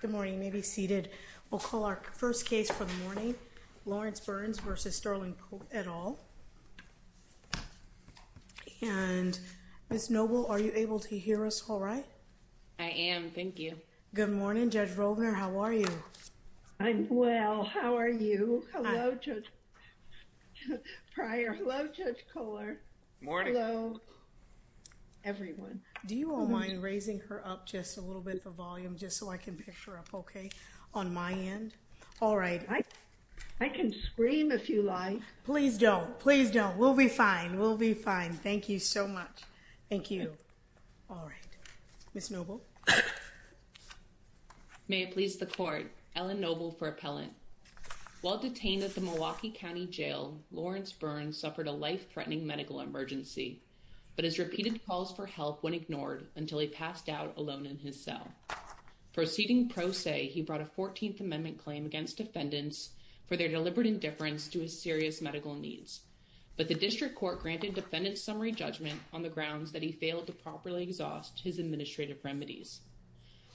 Good morning. You may be seated. We'll call our first case for the morning. Lawrence Burns v. Sterling Polk, et al. And Ms. Noble, are you able to hear us all right? I am, thank you. Good morning. Judge Rovner, how are you? I'm well. How are you? Hello, Judge Pryor. Hello, Judge Kohler. Morning. Hello, everyone. Do you all mind raising her up just a volume just so I can picture up okay on my end? All right. I can scream if you like. Please don't. Please don't. We'll be fine. We'll be fine. Thank you so much. Thank you. All right. Ms. Noble. May it please the court, Ellen Noble for appellant. While detained at the Milwaukee County Jail, Lawrence Burns suffered a life-threatening medical emergency but has repeated calls for until he passed out alone in his cell. Proceeding pro se, he brought a 14th Amendment claim against defendants for their deliberate indifference to his serious medical needs. But the district court granted defendants summary judgment on the grounds that he failed to properly exhaust his administrative remedies.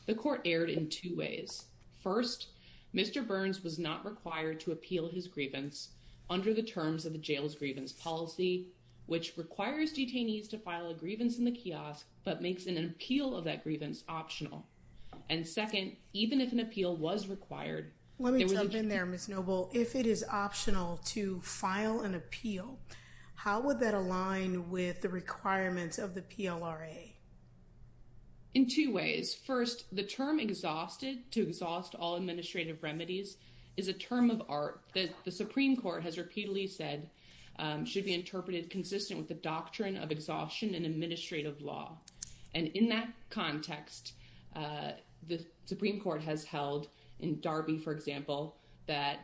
The court erred in two ways. First, Mr. Burns was not required to appeal his grievance under the terms of the jail's grievance policy, which requires detainees to file a grievance in the kiosk but makes an appeal of that grievance optional. And second, even if an appeal was required. Let me jump in there, Ms. Noble. If it is optional to file an appeal, how would that align with the requirements of the PLRA? In two ways. First, the term exhausted to exhaust all administrative remedies is a term of art that the Supreme Court has repeatedly said should be interpreted consistent with the doctrine of exhaustion and administrative law. And in that context, the Supreme Court has held in Darby, for example, that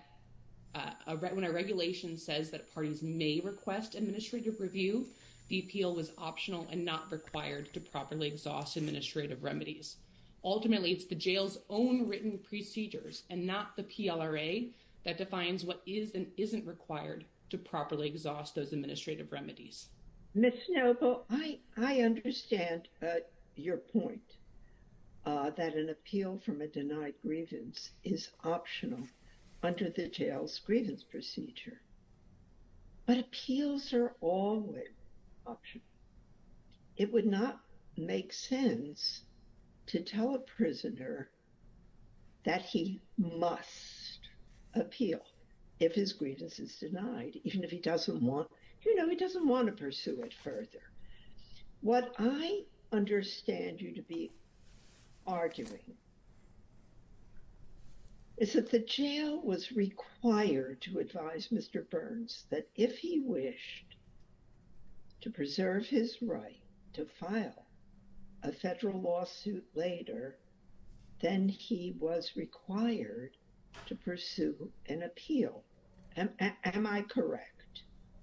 when a regulation says that parties may request administrative review, the appeal was optional and not required to properly exhaust administrative remedies. Ultimately, it's the jail's own written procedures and not the PLRA that defines what is and isn't required to properly exhaust those administrative remedies. Ms. Noble, I understand your point that an appeal from a denied grievance is optional under the jail's grievance procedure. But appeals are always optional. It would not make sense to tell a prisoner that he must appeal if his grievance is denied, even if he doesn't want, you know, he doesn't want to pursue it further. What I understand you to be arguing is that the jail was required to advise Mr. Burns that if he wished to preserve his right to file a federal lawsuit later, then he was required to pursue an appeal. Am I correct?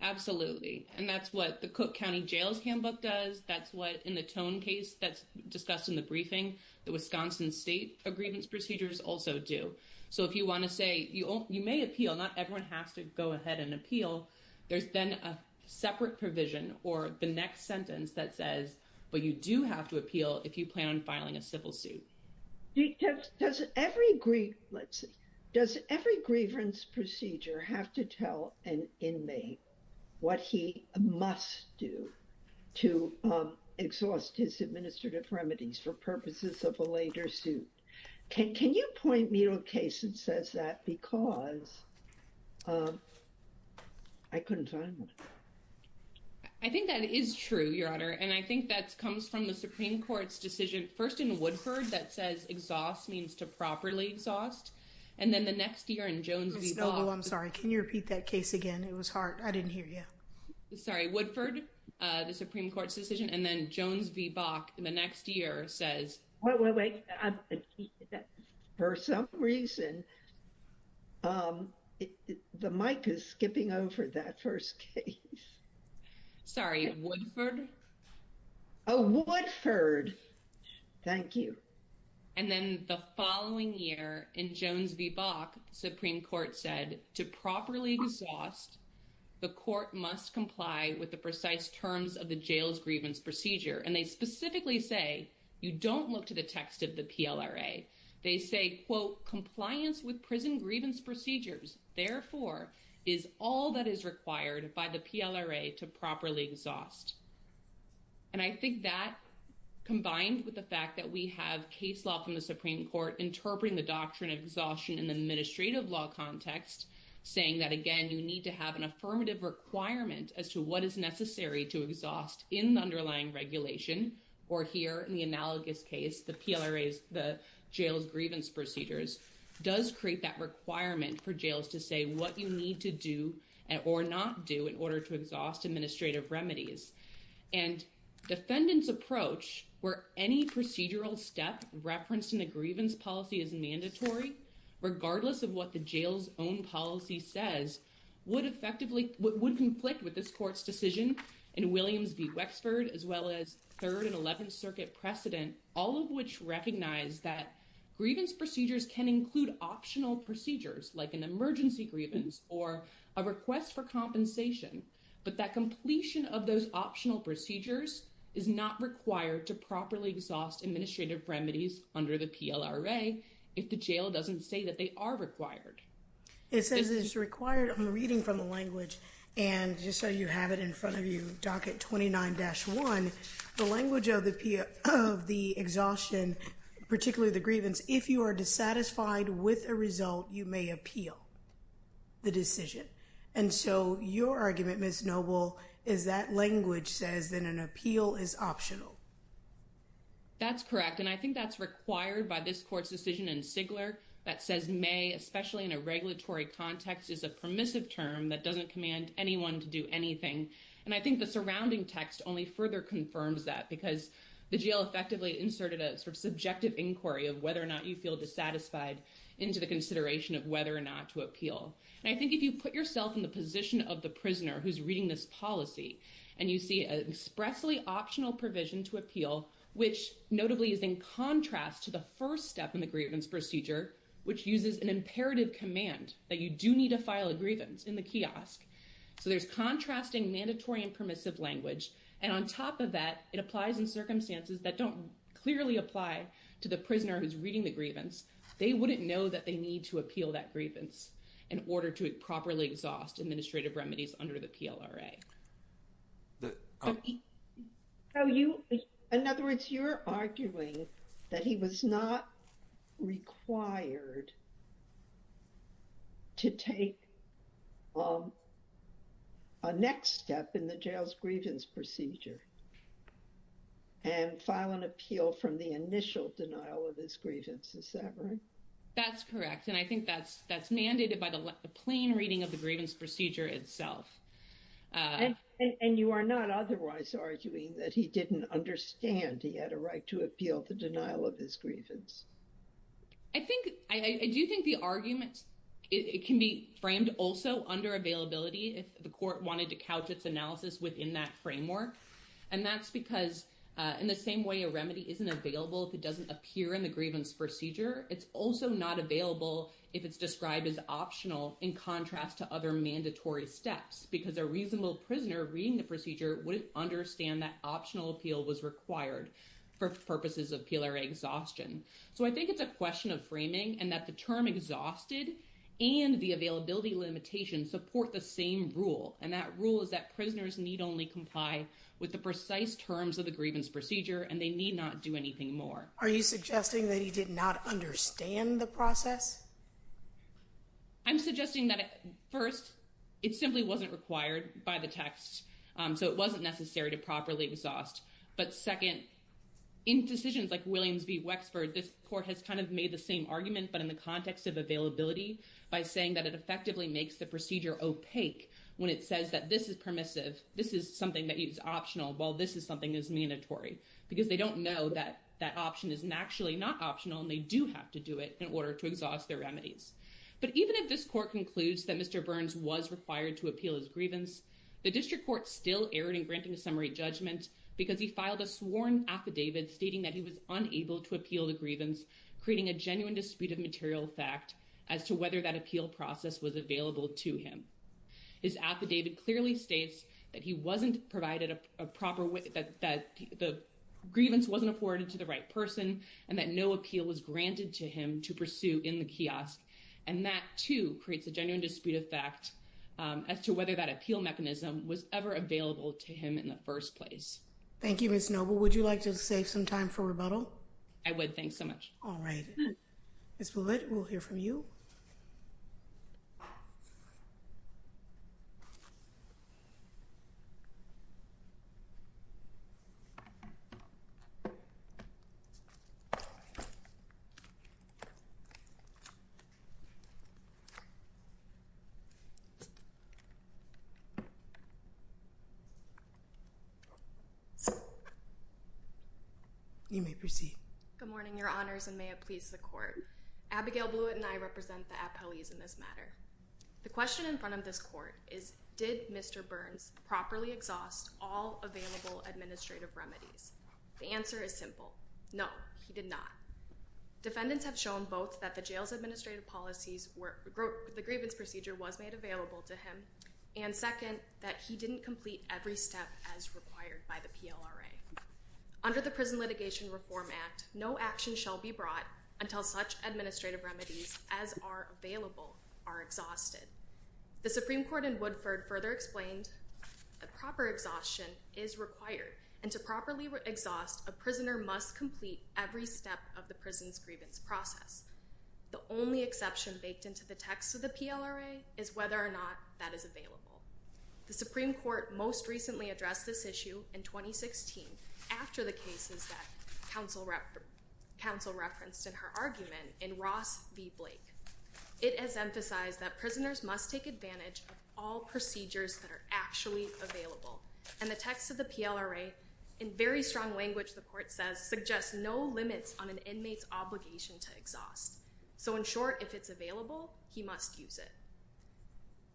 Absolutely. And that's what the Cook County Jail's handbook does. That's what in the Tone case that's discussed in the briefing, the Wisconsin state grievance procedures also do. So if you want to say you may appeal, not everyone has to go ahead and appeal. There's then a separate provision or the next sentence that says, but you do have to appeal if you plan on filing a civil suit. Does every grievance procedure have to tell an inmate what he must do to exhaust his administrative remedies for purposes of a later suit? Can you point me to a case that says that because I couldn't find one. I think that is true, Your Honor, and I think that comes from the Supreme Court's decision, first in Woodford, that says exhaust means to properly exhaust, and then the next year in Jones v. Bob. I'm sorry, can you repeat that case again? It was hard. I didn't hear you. Sorry, Woodford, the Supreme Court's decision, and then Jones v. Bach in the next year says. For some reason, the mic is skipping over that first case. Sorry, Woodford. Oh, Woodford. Thank you. And then the following year in Jones v. Bach, the Supreme Court said to properly exhaust, the court must comply with the precise terms of the jail's grievance procedure, and they specifically say you don't look to the text of the PLRA. They say, quote, compliance with prison grievance procedures, therefore, is all that is required by the PLRA to properly exhaust. And I think that, combined with the fact that we have case law from the Supreme Court interpreting the doctrine of exhaustion in the administrative law context, saying that, again, you need to have an affirmative requirement as to what is necessary to exhaust in the underlying regulation, or here in the analogous case, the PLRA's, the jail's grievance procedures, does create that requirement for jails to say what you need to do or not do in order to exhaust administrative remedies. And defendant's approach, where any procedural step referenced in the grievance policy is mandatory, regardless of what the jail's own policy says, would effectively, would conflict with this court's decision in Williams v. Wexford, as well as 3rd and 11th Circuit precedent, all of which recognize that grievance procedures can include optional procedures, like an emergency grievance or a request for compensation, but that completion of those optional procedures is not required to properly exhaust administrative remedies under the PLRA if the jail doesn't say that they are required. It says it's required, I'm reading from the language, and just so you have it in front of you, docket 29-1, the language of the exhaustion, particularly the grievance, if you are dissatisfied with a result, you may appeal the decision. And so your argument, Ms. Noble, is that language says that an appeal is optional. That's correct, and I think that's required by this court's decision in Sigler, that says may, especially in a regulatory context, is a permissive term that doesn't command anyone to do anything. And I think the surrounding text only further confirms that, because the jail effectively inserted a sort of subjective inquiry of whether or not you feel dissatisfied into the consideration of whether or not to appeal. And I think if you put yourself in the position of the prisoner who's reading this policy, and you see an expressly optional provision to appeal, which notably is in contrast to the first step in the grievance procedure, which uses an imperative command that you do need to file a grievance in the kiosk. So there's contrasting mandatory and permissive language. And on top of that, it applies in circumstances that don't clearly apply to the prisoner who's reading the grievance. They wouldn't know that they need to appeal that grievance in order to properly exhaust administrative remedies under the PLRA. In other words, you're arguing that he was not required to take a next step in the jail's grievance procedure, and file an appeal from the initial denial of his grievance, is that right? That's correct. And I think that's mandated by the plain reading of the grievance procedure itself. And you are not otherwise arguing that he didn't understand he had a right to appeal the denial of his grievance? I do think the argument can be framed also under availability, if the court wanted to analysis within that framework. And that's because in the same way a remedy isn't available if it doesn't appear in the grievance procedure, it's also not available if it's described as optional in contrast to other mandatory steps. Because a reasonable prisoner reading the procedure wouldn't understand that optional appeal was required for purposes of PLRA exhaustion. So I think it's a question of framing and that the term exhausted and the availability limitation support the same rule. And that rule is that prisoners need only comply with the precise terms of the grievance procedure and they need not do anything more. Are you suggesting that he did not understand the process? I'm suggesting that first, it simply wasn't required by the text. So it wasn't necessary to properly exhaust. But second, in decisions like Williams v. Wexford, this court has kind argument but in the context of availability by saying that it effectively makes the procedure opaque when it says that this is permissive, this is something that is optional, while this is something that is mandatory. Because they don't know that that option is actually not optional and they do have to do it in order to exhaust their remedies. But even if this court concludes that Mr. Burns was required to appeal his grievance, the district court still erred in granting a summary judgment because he filed a sworn affidavit stating that he was unable to appeal the grievance, creating a genuine dispute of material fact as to whether that appeal process was available to him. His affidavit clearly states that he wasn't provided a proper way, that the grievance wasn't afforded to the right person and that no appeal was granted to him to pursue in the kiosk. And that too creates a genuine dispute of fact as to whether that appeal mechanism was ever available to him in the first place. Thank you, Ms. Noble. Would you like to save some time for rebuttal? I would. Thanks so much. All right. Ms. Bullitt, we'll hear from you. You may proceed. Good morning, Your Honors, and may it please the court. Abigail Bullitt and I represent the appellees in this matter. The question in front of this court is, did Mr. Burns properly exhaust all available administrative remedies? The answer is simple. No, he did not. Defendants have shown both that the jail's administrative policies, the grievance procedure was made to him, and second, that he didn't complete every step as required by the PLRA. Under the Prison Litigation Reform Act, no action shall be brought until such administrative remedies as are available are exhausted. The Supreme Court in Woodford further explained that proper exhaustion is required, and to properly exhaust, a prisoner must complete every step of the prison's grievance process. The only exception baked into the text of the PLRA is whether or not that is available. The Supreme Court most recently addressed this issue in 2016 after the cases that counsel referenced in her argument in Ross v. Blake. It has emphasized that prisoners must take advantage of all procedures that are actually available, and the text of the PLRA, in very strong language, the court says, suggests no limits on an inmate's to exhaust. So, in short, if it's available, he must use it.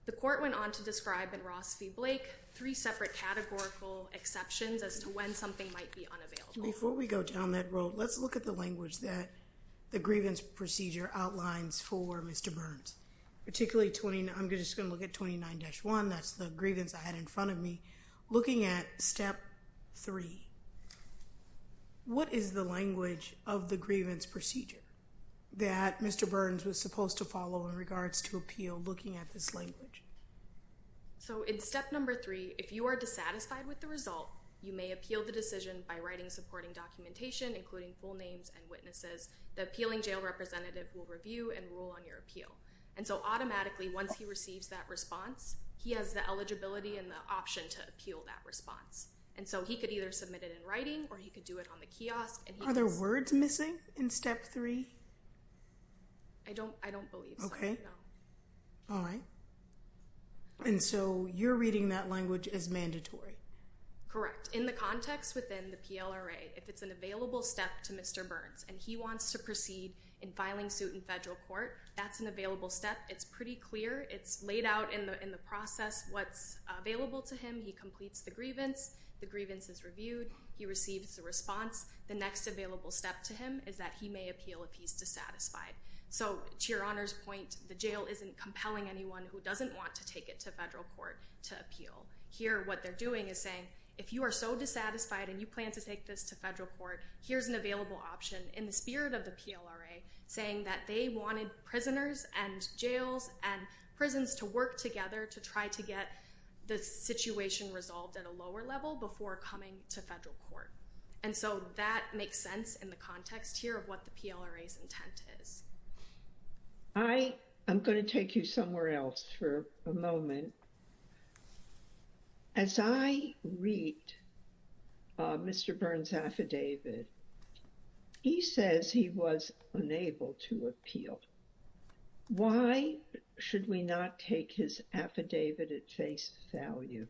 The court went on to describe in Ross v. Blake three separate categorical exceptions as to when something might be unavailable. Before we go down that road, let's look at the language that the grievance procedure outlines for Mr. Burns. Particularly, I'm just going to look at 29-1, that's the grievance I had in front of me, looking at step three. What is the language of the grievance procedure that Mr. Burns was supposed to follow in regards to appeal looking at this language? So, in step number three, if you are dissatisfied with the result, you may appeal the decision by writing supporting documentation, including full names and witnesses. The appealing jail representative will review and rule on your appeal. And so, automatically, once he receives that response, he has the eligibility and the option to appeal that response. And so, he could either submit it in writing or he could do it on the kiosk. Are there words missing in step three? I don't believe so, no. Okay. All right. And so, you're reading that language as mandatory? Correct. In the context within the PLRA, if it's an available step to Mr. Burns and he wants to proceed in filing suit in federal court, that's an in the process what's available to him. He completes the grievance. The grievance is reviewed. He receives the response. The next available step to him is that he may appeal if he's dissatisfied. So, to Your Honor's point, the jail isn't compelling anyone who doesn't want to take it to federal court to appeal. Here, what they're doing is saying, if you are so dissatisfied and you plan to take this to federal court, here's an available option in the spirit of the PLRA saying that they wanted prisoners and jails and prisons to work together to try to get the situation resolved at a lower level before coming to federal court. And so, that makes sense in the context here of what the PLRA's intent is. I am going to take you somewhere else for a moment. As I read Mr. Burns' affidavit, he says he was unable to appeal. Why should we not take his affidavit at face value?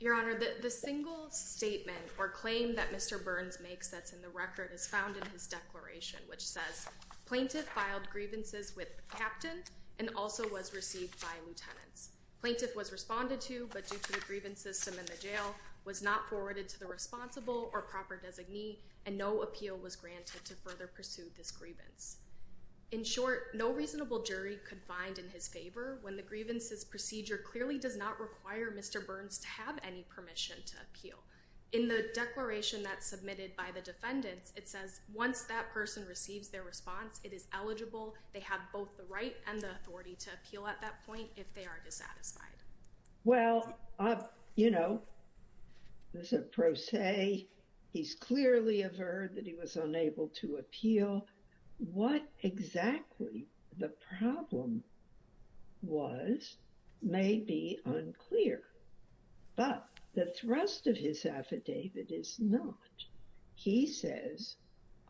Your Honor, the single statement or claim that Mr. Burns makes that's in the record is found in his declaration, which says, plaintiff filed grievances with the captain and also was received by lieutenants. Plaintiff was responded to, but due to the grievance system in the jail, was not forwarded to the responsible or proper designee, and no appeal was granted to further pursue this grievance. In short, no reasonable jury could find in his favor when the grievances procedure clearly does not require Mr. Burns to have any permission to appeal. In the declaration that's submitted by the defendants, it says once that person receives their response, it is eligible. They have both the right and the authority to appeal at that point if they are dissatisfied. Well, you know, there's a pro se. He's clearly averred that he was unable to appeal. What exactly the problem was may be unclear, but the thrust of his affidavit is not. He says,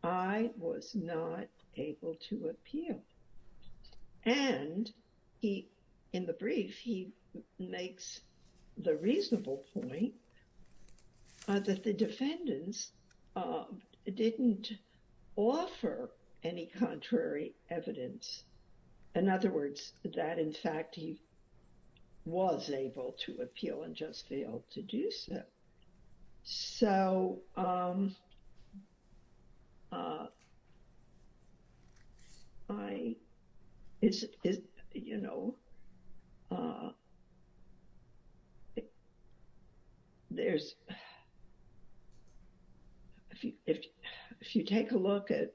I was not able to appeal. And he, in the brief, he makes the reasonable point that the defendants didn't offer any contrary evidence. In other words, that, in fact, he was able to appeal and just failed to do so. So I, you know, there's, if you take a look at,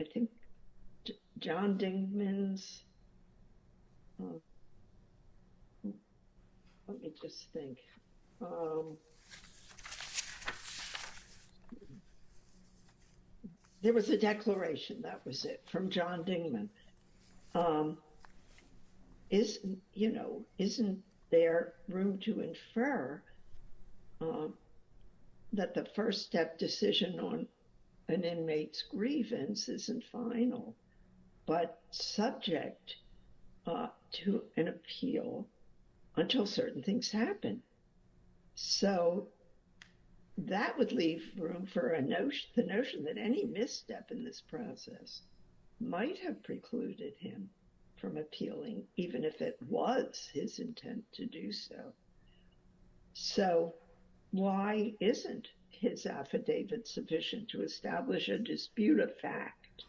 I think, John Dingman's, let me just think. There was a declaration, that was it, from John Dingman. Isn't, you know, isn't there room to infer that the first step decision on an inmate's grievance isn't final, but subject to an appeal until certain things happen? So that would leave room for a notion, the notion that any misstep in this process might have precluded him from appealing, even if it was his intent to do so. So why isn't his affidavit sufficient to establish a dispute of fact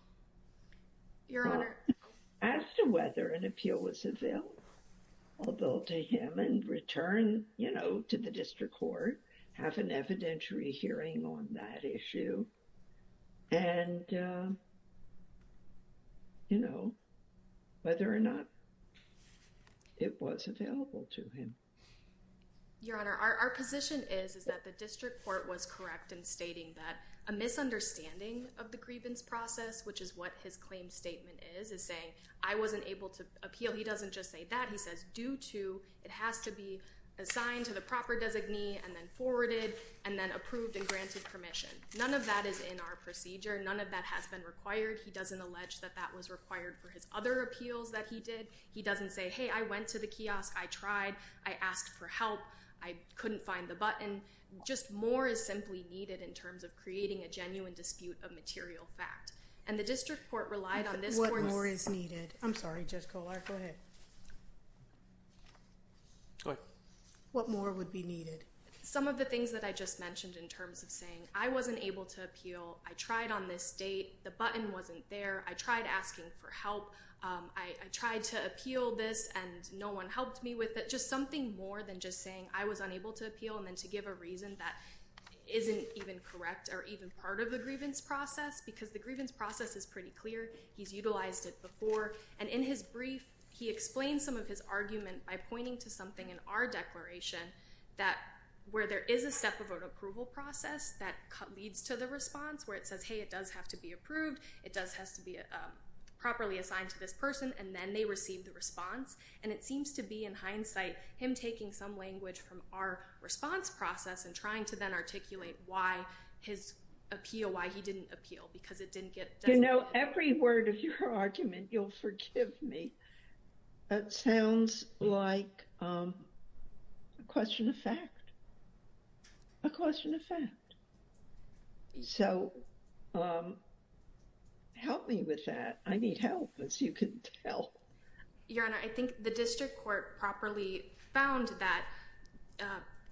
as to whether an appeal was available to him and return, you know, to the district court, have an evidentiary hearing on that issue, and, you know, whether or not it was available to him? Your Honor, our position is, is that the district court was correct in stating that a misunderstanding of the grievance process, which is what his claim statement is, is saying, I wasn't able to appeal. He doesn't just say that. He says, due to, it has to be assigned to the proper designee and then forwarded and then approved and granted permission. None of that is in our procedure. None of that has been required. He doesn't allege that that was required for his other appeals that he did. He doesn't say, hey, went to the kiosk. I tried. I asked for help. I couldn't find the button. Just more is simply needed in terms of creating a genuine dispute of material fact. And the district court relied on this. What more is needed? I'm sorry, Judge Kollar. Go ahead. What more would be needed? Some of the things that I just mentioned in terms of saying, I wasn't able to appeal. I tried on this date. The button wasn't there. I tried asking for help. I tried to appeal this, and no one helped me with it. Just something more than just saying, I was unable to appeal, and then to give a reason that isn't even correct or even part of the grievance process, because the grievance process is pretty clear. He's utilized it before. And in his brief, he explains some of his argument by pointing to something in our declaration that where there is a step of an approval process that leads to the response, where it says, hey, it does have to be It does has to be properly assigned to this person, and then they receive the response. And it seems to be, in hindsight, him taking some language from our response process and trying to then articulate why his appeal, why he didn't appeal, because it didn't get done. You know, every word of your argument, you'll forgive me. That sounds like a question of fact. A question of fact. So help me with that. I need help, as you can tell. Your Honor, I think the district court properly found that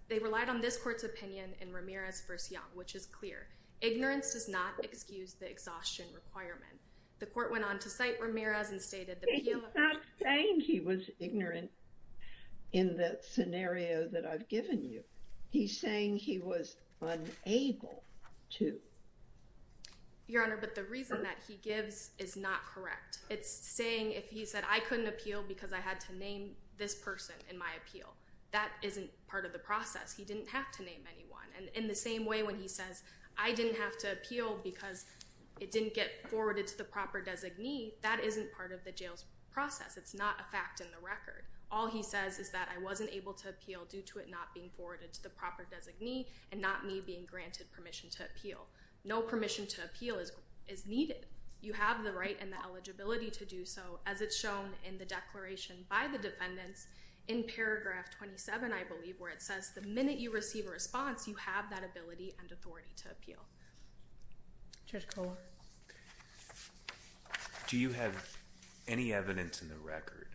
they relied on this court's opinion in Ramirez v. Young, which is clear. Ignorance does not excuse the exhaustion requirement. The court went on to cite Ramirez and stated that he was not saying he was ignorant in the scenario that I've given you. He's saying he was unable to. Your Honor, but the reason that he gives is not correct. It's saying, if he said, I couldn't appeal because I had to name this person in my appeal, that isn't part of the process. He didn't have to name anyone. And in the same way, when he says, I didn't have to appeal because it didn't get forwarded to the process, it's not a fact in the record. All he says is that I wasn't able to appeal due to it not being forwarded to the proper designee and not me being granted permission to appeal. No permission to appeal is needed. You have the right and the eligibility to do so, as it's shown in the declaration by the defendants in paragraph 27, I believe, where it says, the minute you receive a response, you have that ability and authority to appeal. Judge Kohler? Do you have any evidence in the record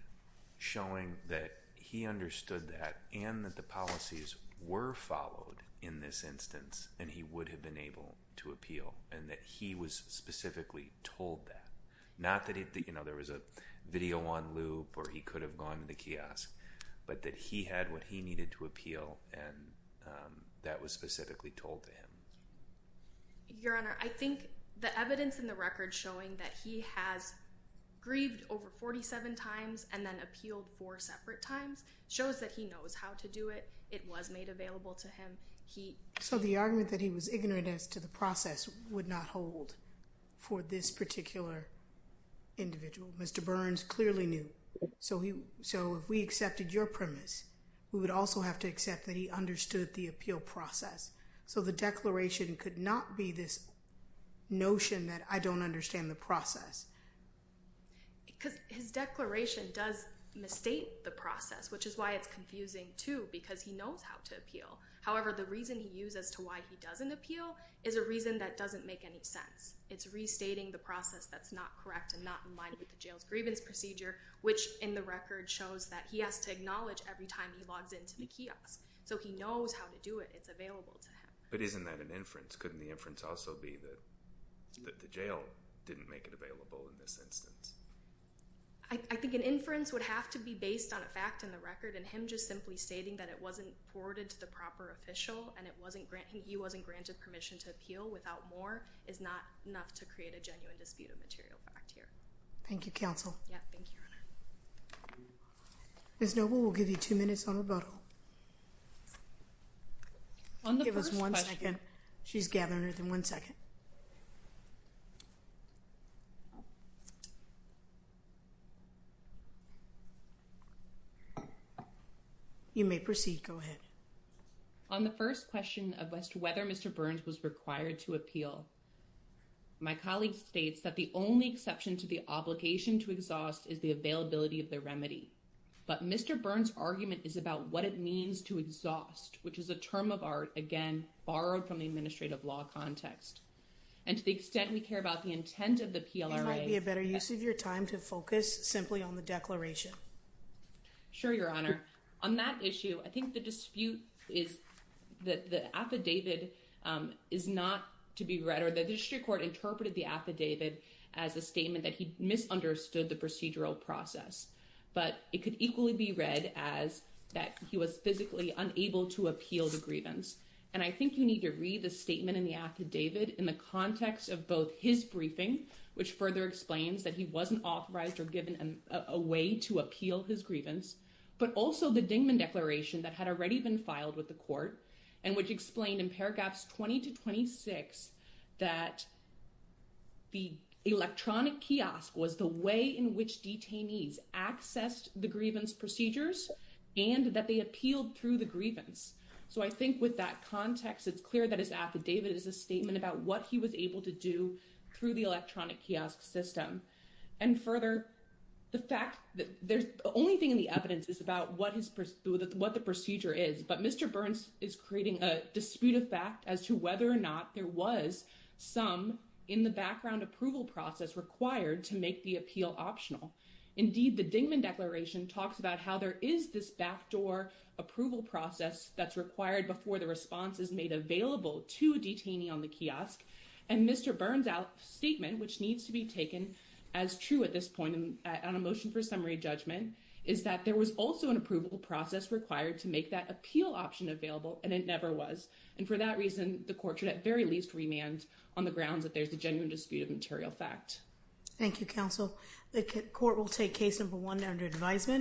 showing that he understood that and that the policies were followed in this instance and he would have been able to appeal and that he was specifically told that? Not that there was a video on loop or he could have gone to the kiosk, but that he had what he needed to appeal and that was specifically told to him? Your Honor, I think the evidence in the record showing that he has grieved over 47 times and then appealed four separate times shows that he knows how to do it. It was made available to him. So the argument that he was ignorant as to the process would not hold for this particular individual. Mr. Burns clearly knew. So if we accepted your premise, we would also have to that he understood the appeal process. So the declaration could not be this notion that I don't understand the process. Because his declaration does misstate the process, which is why it's confusing too, because he knows how to appeal. However, the reason he used as to why he doesn't appeal is a reason that doesn't make any sense. It's restating the process that's not correct and not in line with the jail's grievance procedure, which in the record shows that he has to acknowledge every time he logs into the kiosk. So he knows how to do it. It's available to him. But isn't that an inference? Couldn't the inference also be that the jail didn't make it available in this instance? I think an inference would have to be based on a fact in the record and him just simply stating that it wasn't forwarded to the proper official and he wasn't granted permission to appeal without more is not enough to create a genuine dispute of fact here. Thank you, counsel. Yeah, thank you, your honor. Ms. Noble will give you two minutes on rebuttal. On the first question. Give us one second. She's gathering within one second. You may proceed. Go ahead. On the first question of whether Mr. Burns was required to appeal, my colleague states that the only exception to the obligation to exhaust is the availability of the remedy. But Mr. Burns' argument is about what it means to exhaust, which is a term of art, again, borrowed from the administrative law context. And to the extent we care about the intent of the PLRA. It might be a better use of your time to focus simply on the declaration. Sure, your honor. On that issue, I think the dispute is that the affidavit is not to be read or the district court interpreted the affidavit as a statement that he misunderstood the procedural process. But it could equally be read as that he was physically unable to appeal the grievance. And I think you need to read the statement in the affidavit in the context of both his briefing, which further explains that he wasn't authorized or given a way to appeal his grievance, but also the Dingman declaration that had already been filed with the court and which explained in paragraphs 20 to 26, that the electronic kiosk was the way in which detainees accessed the grievance procedures and that they appealed through the grievance. So I think with that context, it's clear that his affidavit is a statement about what he was able to do through the electronic kiosk system. And further, the fact that there's only thing in the evidence is about what the procedure is, but Mr. Burns is creating a dispute of fact as to whether or not there was some in the background approval process required to make the appeal optional. Indeed, the Dingman declaration talks about how there is this backdoor approval process that's required before the response is made available to a detainee on the kiosk. And Mr. Burns' statement, which needs to be taken as true at this point on a motion for summary judgment, is that there was also an approval process required to make that appeal option available and it never was. And for that reason, the court should at very least remand on the grounds that there's a genuine dispute of material fact. Thank you, counsel. The court will take case number one under advisement.